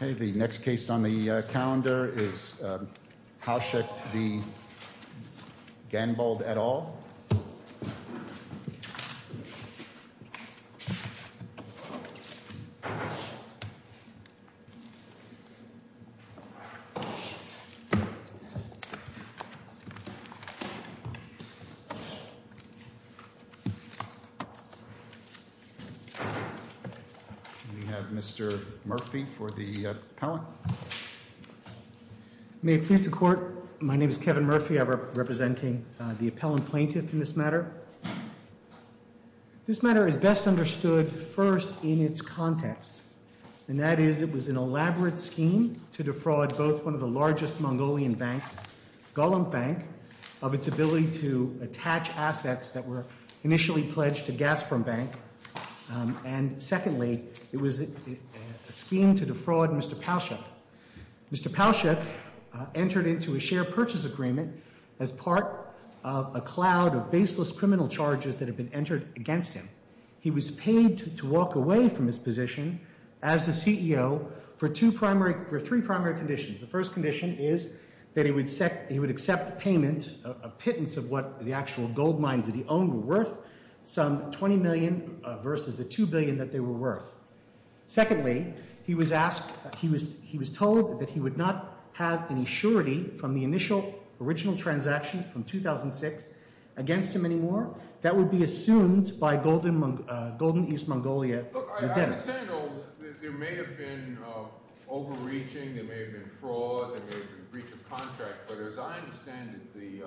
The next case on the calendar is Paushok v. Ganbold et al. We have Mr. Murphy for the appellant. May it please the Court, my name is Kevin Murphy. I'm representing the appellant plaintiff in this matter. This matter is best understood first in its context, and that is it was an elaborate scheme to defraud both one of the largest Mongolian banks, Golomb Bank, of its ability to attach assets that were initially pledged to Gazprom Bank. And secondly, it was a scheme to defraud Mr. Paushok. Mr. Paushok entered into a share purchase agreement as part of a cloud of baseless criminal charges that had been entered against him. He was paid to walk away from his position as the CEO for three primary conditions. The first condition is that he would accept payment, a pittance of what the actual gold mines that he owned were worth, some $20 million versus the $2 billion that they were worth. Secondly, he was asked, he was told that he would not have any surety from the initial original transaction from 2006 against him anymore. That would be assumed by Golden East Mongolia. Look, I understand there may have been overreaching, there may have been fraud, there may have been breach of contract, but as I understand it, the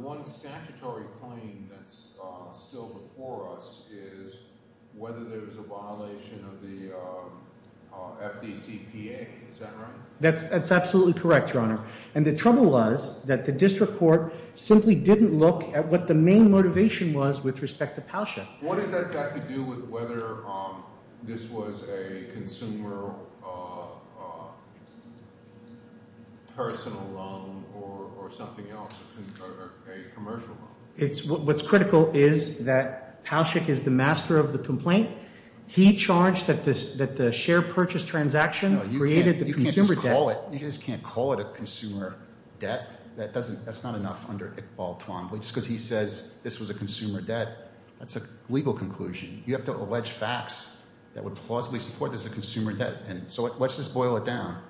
one statutory claim that's still before us is whether there was a violation of the FDCPA. Is that right? That's absolutely correct, Your Honor. And the trouble was that the district court simply didn't look at what the main motivation was with respect to Paushok. What has that got to do with whether this was a consumer personal loan or something else, a commercial loan? What's critical is that Paushok is the master of the complaint. He charged that the share purchase transaction created the consumer debt. No, you can't just call it a consumer debt. That's not enough under Iqbal Twan, just because he says this was a consumer debt. That's a legal conclusion. You have to allege facts that would plausibly support this as a consumer debt. So let's just boil it down.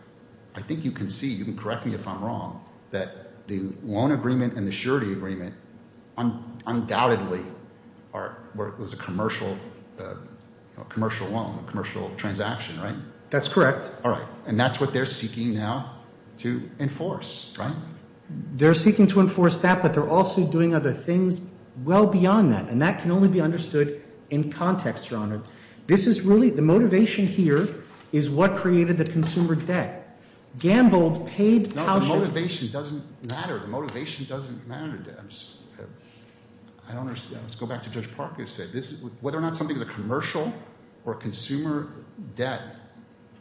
I think you can see, you can correct me if I'm wrong, that the loan agreement and the surety agreement undoubtedly was a commercial loan, a commercial transaction, right? That's correct. All right. And that's what they're seeking now to enforce, right? They're seeking to enforce that, but they're also doing other things well beyond that, and that can only be understood in context, Your Honor. This is really the motivation here is what created the consumer debt. Gambled paid Paushok. No, the motivation doesn't matter. The motivation doesn't matter. I don't understand. Let's go back to Judge Parker and say whether or not something is a commercial or a consumer debt,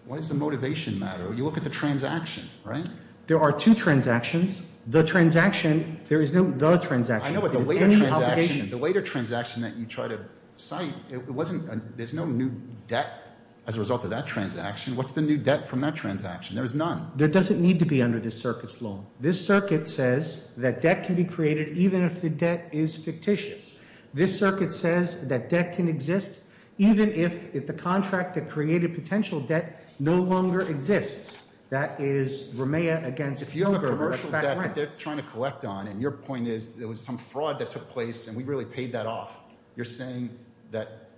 why does the motivation matter? You look at the transaction, right? There are two transactions. The transaction, there is no the transaction. I know, but the later transaction, the later transaction that you try to cite, there's no new debt as a result of that transaction. What's the new debt from that transaction? There is none. There doesn't need to be under this circuit's law. This circuit says that debt can be created even if the debt is fictitious. This circuit says that debt can exist even if the contract that created potential debt no longer exists. That is Ramea against Fugger. If you have a commercial debt that they're trying to collect on, and your point is there was some fraud that took place and we really paid that off, you're saying that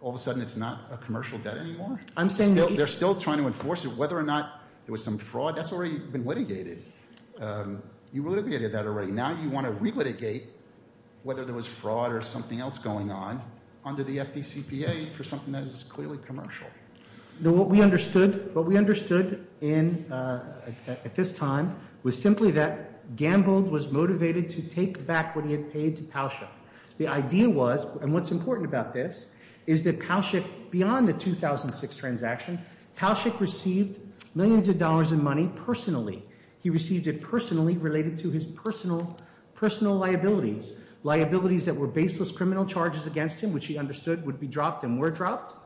all of a sudden it's not a commercial debt anymore? I'm saying that. They're still trying to enforce it. Whether or not there was some fraud, that's already been litigated. You litigated that already. Now you want to relitigate whether there was fraud or something else going on under the FDCPA for something that is clearly commercial. What we understood at this time was simply that Gambold was motivated to take back what he had paid to Palschik. The idea was, and what's important about this, is that Palschik, beyond the 2006 transaction, Palschik received millions of dollars in money personally. He received it personally related to his personal liabilities, liabilities that were baseless criminal charges against him, which he understood would be dropped and were dropped.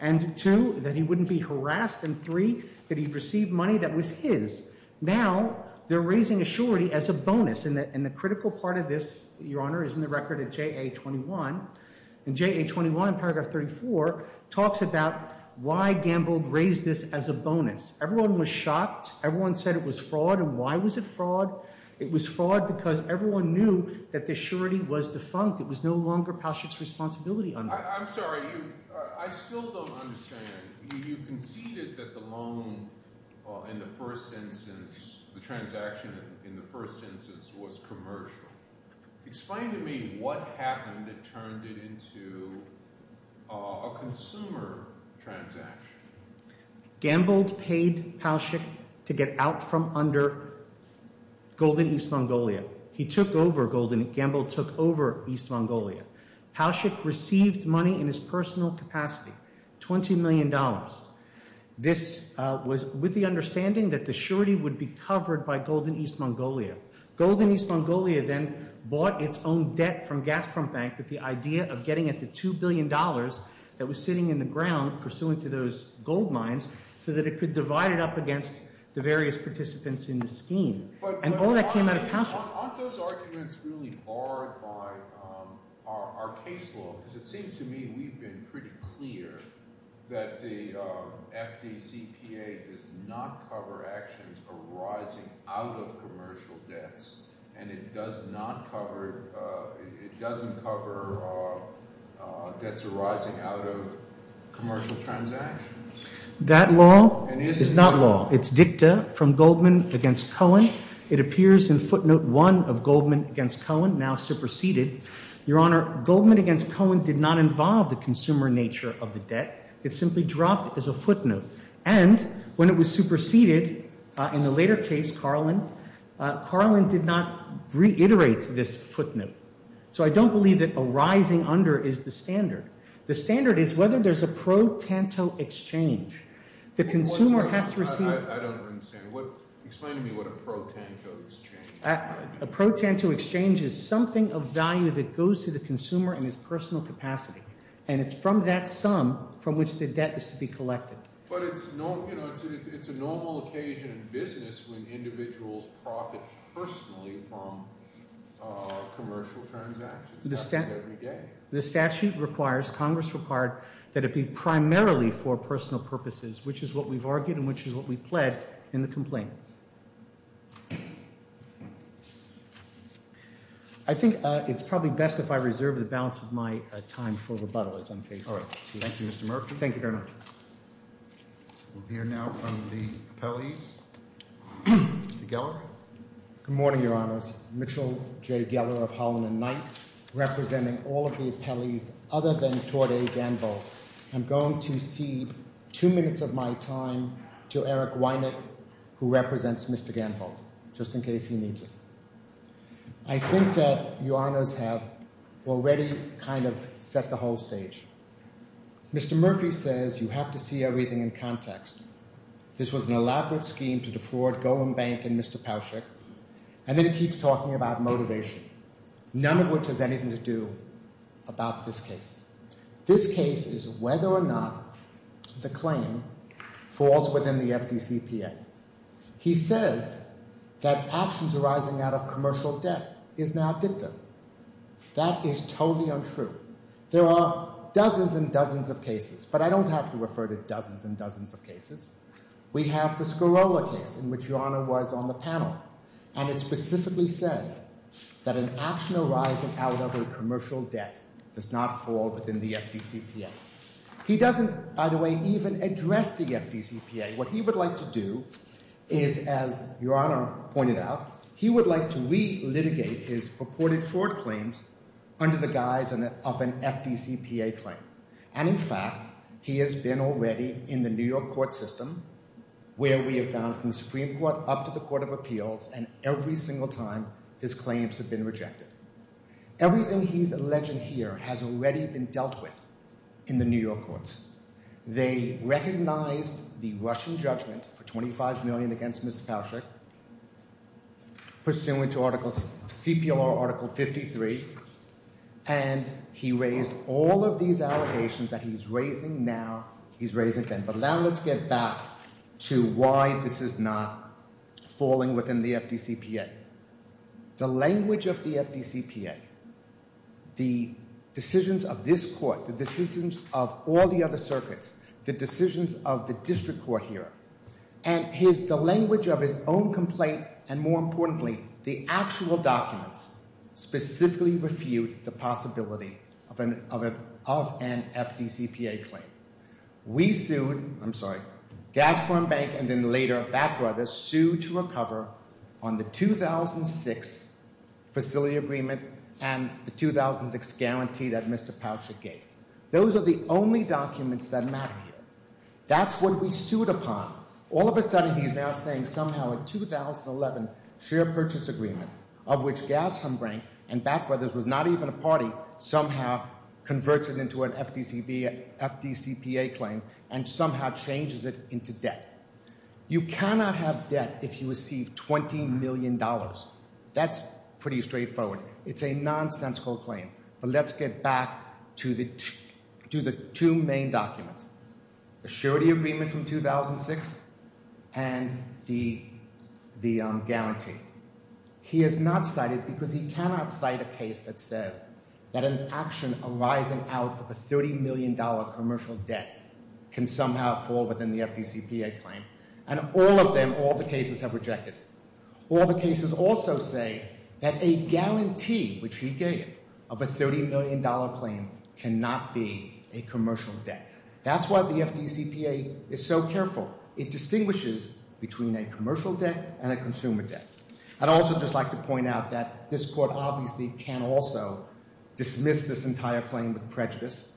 And two, that he wouldn't be harassed, and three, that he received money that was his. Now they're raising a surety as a bonus, and the critical part of this, Your Honor, is in the record of JA-21, and JA-21 paragraph 34 talks about why Gambold raised this as a bonus. Everyone was shocked. Everyone said it was fraud, and why was it fraud? It was fraud because everyone knew that the surety was defunct. It was no longer Palschik's responsibility under it. I'm sorry. I still don't understand. You conceded that the loan in the first instance, the transaction in the first instance, was commercial. Explain to me what happened that turned it into a consumer transaction. Gambold paid Palschik to get out from under Golden East Mongolia. He took over Golden. Gambold took over East Mongolia. Palschik received money in his personal capacity, $20 million. This was with the understanding that the surety would be covered by Golden East Mongolia. Golden East Mongolia then bought its own debt from Gazprom Bank with the idea of getting at the $2 billion that was sitting in the ground pursuant to those gold mines so that it could divide it up against the various participants in the scheme. And all that came out of Palschik. Aren't those arguments really barred by our case law? Because it seems to me we've been pretty clear that the FDCPA does not cover actions arising out of commercial debts, and it doesn't cover debts arising out of commercial transactions. That law is not law. It's dicta from Goldman against Cohen. It appears in footnote one of Goldman against Cohen, now superseded. Your Honor, Goldman against Cohen did not involve the consumer nature of the debt. It simply dropped as a footnote. And when it was superseded in the later case, Carlin, Carlin did not reiterate this footnote. So I don't believe that arising under is the standard. The standard is whether there's a pro tanto exchange. The consumer has to receive – A pro tanto exchange is something of value that goes to the consumer in his personal capacity. And it's from that sum from which the debt is to be collected. But it's a normal occasion in business when individuals profit personally from commercial transactions. That happens every day. The statute requires, Congress required, that it be primarily for personal purposes, which is what we've argued and which is what we pled in the complaint. I think it's probably best if I reserve the balance of my time for rebuttal as I'm facing it. All right. Thank you, Mr. Murphy. Thank you very much. We'll hear now from the appellees. Mr. Geller? Good morning, Your Honors. Mitchell J. Geller of Holland and Knight representing all of the appellees other than Torday Danvold. I'm going to cede two minutes of my time to Eric Weinert, who represents Mr. Danvold, just in case he needs it. I think that Your Honors have already kind of set the whole stage. Mr. Murphy says you have to see everything in context. This was an elaborate scheme to defraud Goldman Bank and Mr. Pauschak. And then he keeps talking about motivation, none of which has anything to do about this case. This case is whether or not the claim falls within the FDCPA. He says that actions arising out of commercial debt is now dicta. That is totally untrue. There are dozens and dozens of cases, but I don't have to refer to dozens and dozens of cases. We have the Scarola case in which Your Honor was on the panel, and it specifically said that an action arising out of a commercial debt does not fall within the FDCPA. He doesn't, by the way, even address the FDCPA. What he would like to do is, as Your Honor pointed out, he would like to relitigate his purported fraud claims under the guise of an FDCPA claim. And in fact, he has been already in the New York court system, where we have gone from the Supreme Court up to the Court of Appeals, and every single time his claims have been rejected. Everything he's alleging here has already been dealt with in the New York courts. They recognized the Russian judgment for $25 million against Mr. Pauschak, pursuant to CPLR Article 53, and he raised all of these allegations that he's raising now, he's raising again. But now let's get back to why this is not falling within the FDCPA. The language of the FDCPA, the decisions of this court, the decisions of all the other circuits, the decisions of the district court here, and his, the language of his own complaint, and more importantly, the actual documents specifically refute the possibility of an FDCPA claim. We sued, I'm sorry, Gasporn Bank and then later Bat Brothers sued to recover on the 2006 facility agreement and the 2006 guarantee that Mr. Pauschak gave. Those are the only documents that matter here. That's what we sued upon. All of a sudden he's now saying somehow a 2011 share purchase agreement of which Gasporn Bank and Bat Brothers was not even a party, somehow converts it into an FDCPA claim and somehow changes it into debt. You cannot have debt if you receive $20 million. That's pretty straightforward. It's a nonsensical claim. But let's get back to the two main documents. The surety agreement from 2006 and the guarantee. He has not cited because he cannot cite a case that says that an action arising out of a $30 million commercial debt can somehow fall within the FDCPA claim. And all of them, all the cases have rejected. All the cases also say that a guarantee, which he gave, of a $30 million claim cannot be a commercial debt. That's why the FDCPA is so careful. It distinguishes between a commercial debt and a consumer debt. I'd also just like to point out that this court obviously can also dismiss this entire claim with prejudice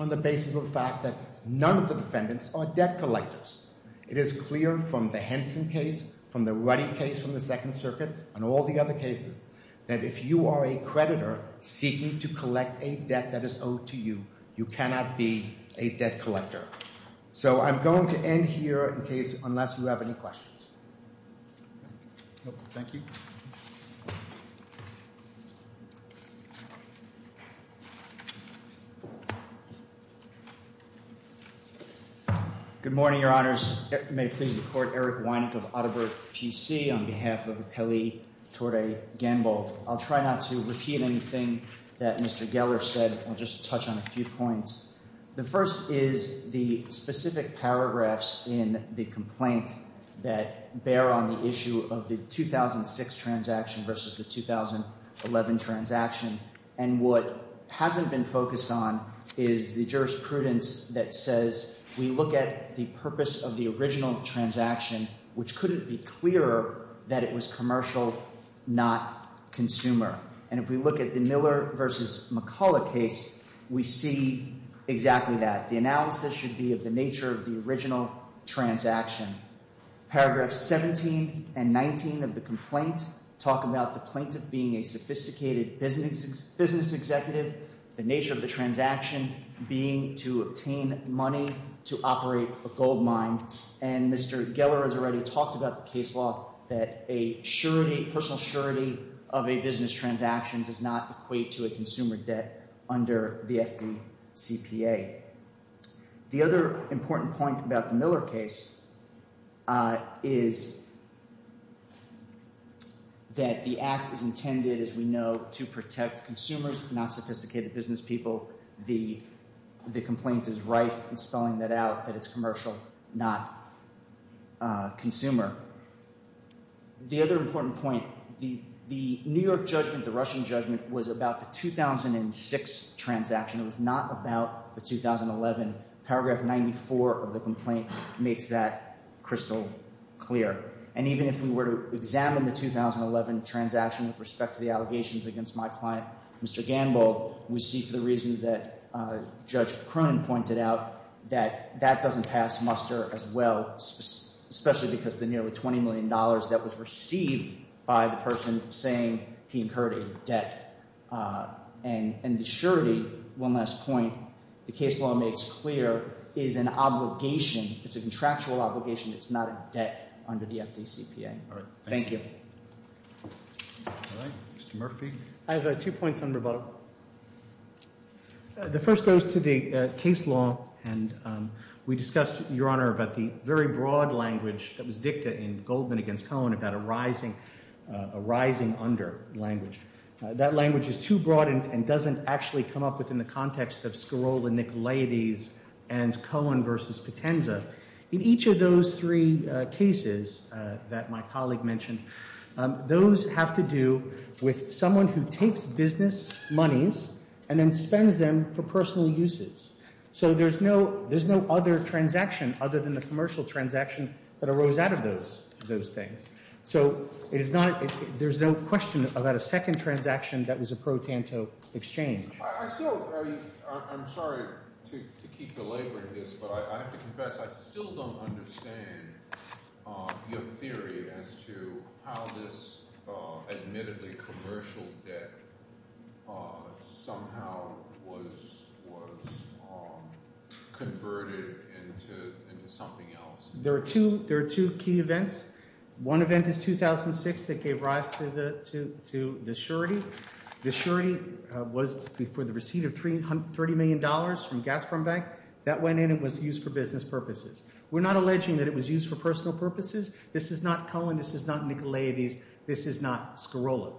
on the basis of the fact that none of the defendants are debt collectors. It is clear from the Henson case, from the Ruddy case from the Second Circuit, and all the other cases, that if you are a creditor seeking to collect a debt that is owed to you, you cannot be a debt collector. So I'm going to end here in case unless you have any questions. Thank you. Good morning, Your Honors. May it please the court, Eric Wynick of Auditor PC on behalf of Kelly Torey Gamble. I'll try not to repeat anything that Mr. Geller said. I'll just touch on a few points. The first is the specific paragraphs in the complaint that bear on the issue of the 2006 transaction versus the 2011 transaction. And what hasn't been focused on is the jurisprudence that says we look at the purpose of the original transaction, which couldn't be clearer that it was commercial, not consumer. And if we look at the Miller v. McCullough case, we see exactly that. The analysis should be of the nature of the original transaction. Paragraphs 17 and 19 of the complaint talk about the plaintiff being a sophisticated business executive, the nature of the transaction being to obtain money to operate a gold mine. And Mr. Geller has already talked about the case law that a surety, personal surety of a business transaction does not equate to a consumer debt under the FDCPA. The other important point about the Miller case is that the act is intended, as we know, to protect consumers, not sophisticated business people. The complaint is rife in spelling that out that it's commercial, not consumer. The other important point, the New York judgment, the Russian judgment, was about the 2006 transaction. It was not about the 2011. Paragraph 94 of the complaint makes that crystal clear. And even if we were to examine the 2011 transaction with respect to the allegations against my client, Mr. Gambold, we see for the reasons that Judge Cronin pointed out that that doesn't pass muster as well, especially because the nearly $20 million that was received by the person saying he incurred a debt. And the surety, one last point, the case law makes clear, is an obligation. It's a contractual obligation. It's not a debt under the FDCPA. All right. Thank you. All right. Mr. Murphy. I have two points on rebuttal. The first goes to the case law. And we discussed, Your Honor, about the very broad language that was dictated in Goldman against Cohen about a rising under language. That language is too broad and doesn't actually come up within the context of Scarola-Nicolaides and Cohen versus Potenza. In each of those three cases that my colleague mentioned, those have to do with someone who takes business monies and then spends them for personal uses. So there's no other transaction other than the commercial transaction that arose out of those things. So there's no question about a second transaction that was a pro tanto exchange. I'm sorry to keep delaboring this, but I have to confess I still don't understand your theory as to how this admittedly commercial debt somehow was converted into something else. There are two key events. One event is 2006 that gave rise to the surety. The surety was for the receipt of $30 million from Gazprom Bank. That went in and was used for business purposes. We're not alleging that it was used for personal purposes. This is not Cohen. This is not Nicolaides. This is not Scarola.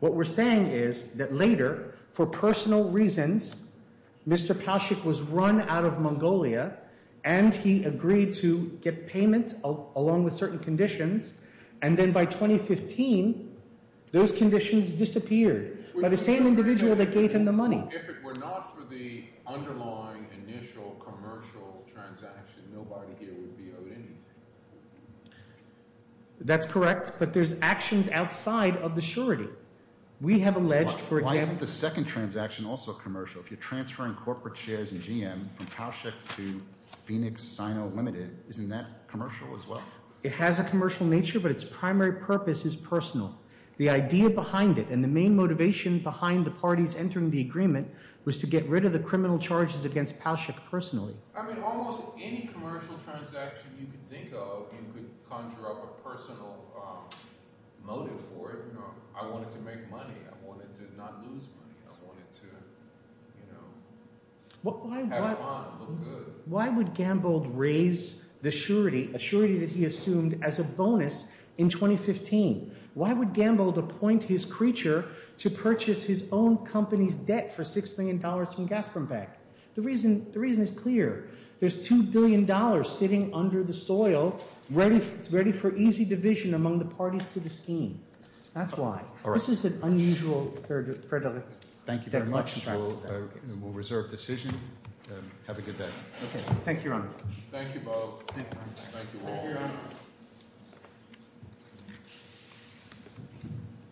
What we're saying is that later, for personal reasons, Mr. Pashuk was run out of Mongolia and he agreed to get payment along with certain conditions. And then by 2015, those conditions disappeared by the same individual that gave him the money. If it were not for the underlying initial commercial transaction, nobody here would be owed anything. That's correct, but there's actions outside of the surety. We have alleged for example— Why isn't the second transaction also commercial? If you're transferring corporate shares in GM from Pashuk to Phoenix Sino Limited, isn't that commercial as well? It has a commercial nature, but its primary purpose is personal. The idea behind it and the main motivation behind the parties entering the agreement was to get rid of the criminal charges against Pashuk personally. I mean almost any commercial transaction you can think of, you could conjure up a personal motive for it. I wanted to make money. I wanted to not lose money. I wanted to have fun, look good. Why would Gambold raise the surety, a surety that he assumed as a bonus, in 2015? Why would Gambold appoint his creature to purchase his own company's debt for $6 million from Gazprom Bank? The reason is clear. There's $2 billion sitting under the soil ready for easy division among the parties to the scheme. That's why. This is an unusual— Thank you very much. We'll reserve decision. Have a good day. Thank you, Your Honor. Thank you, Bob. Thank you all.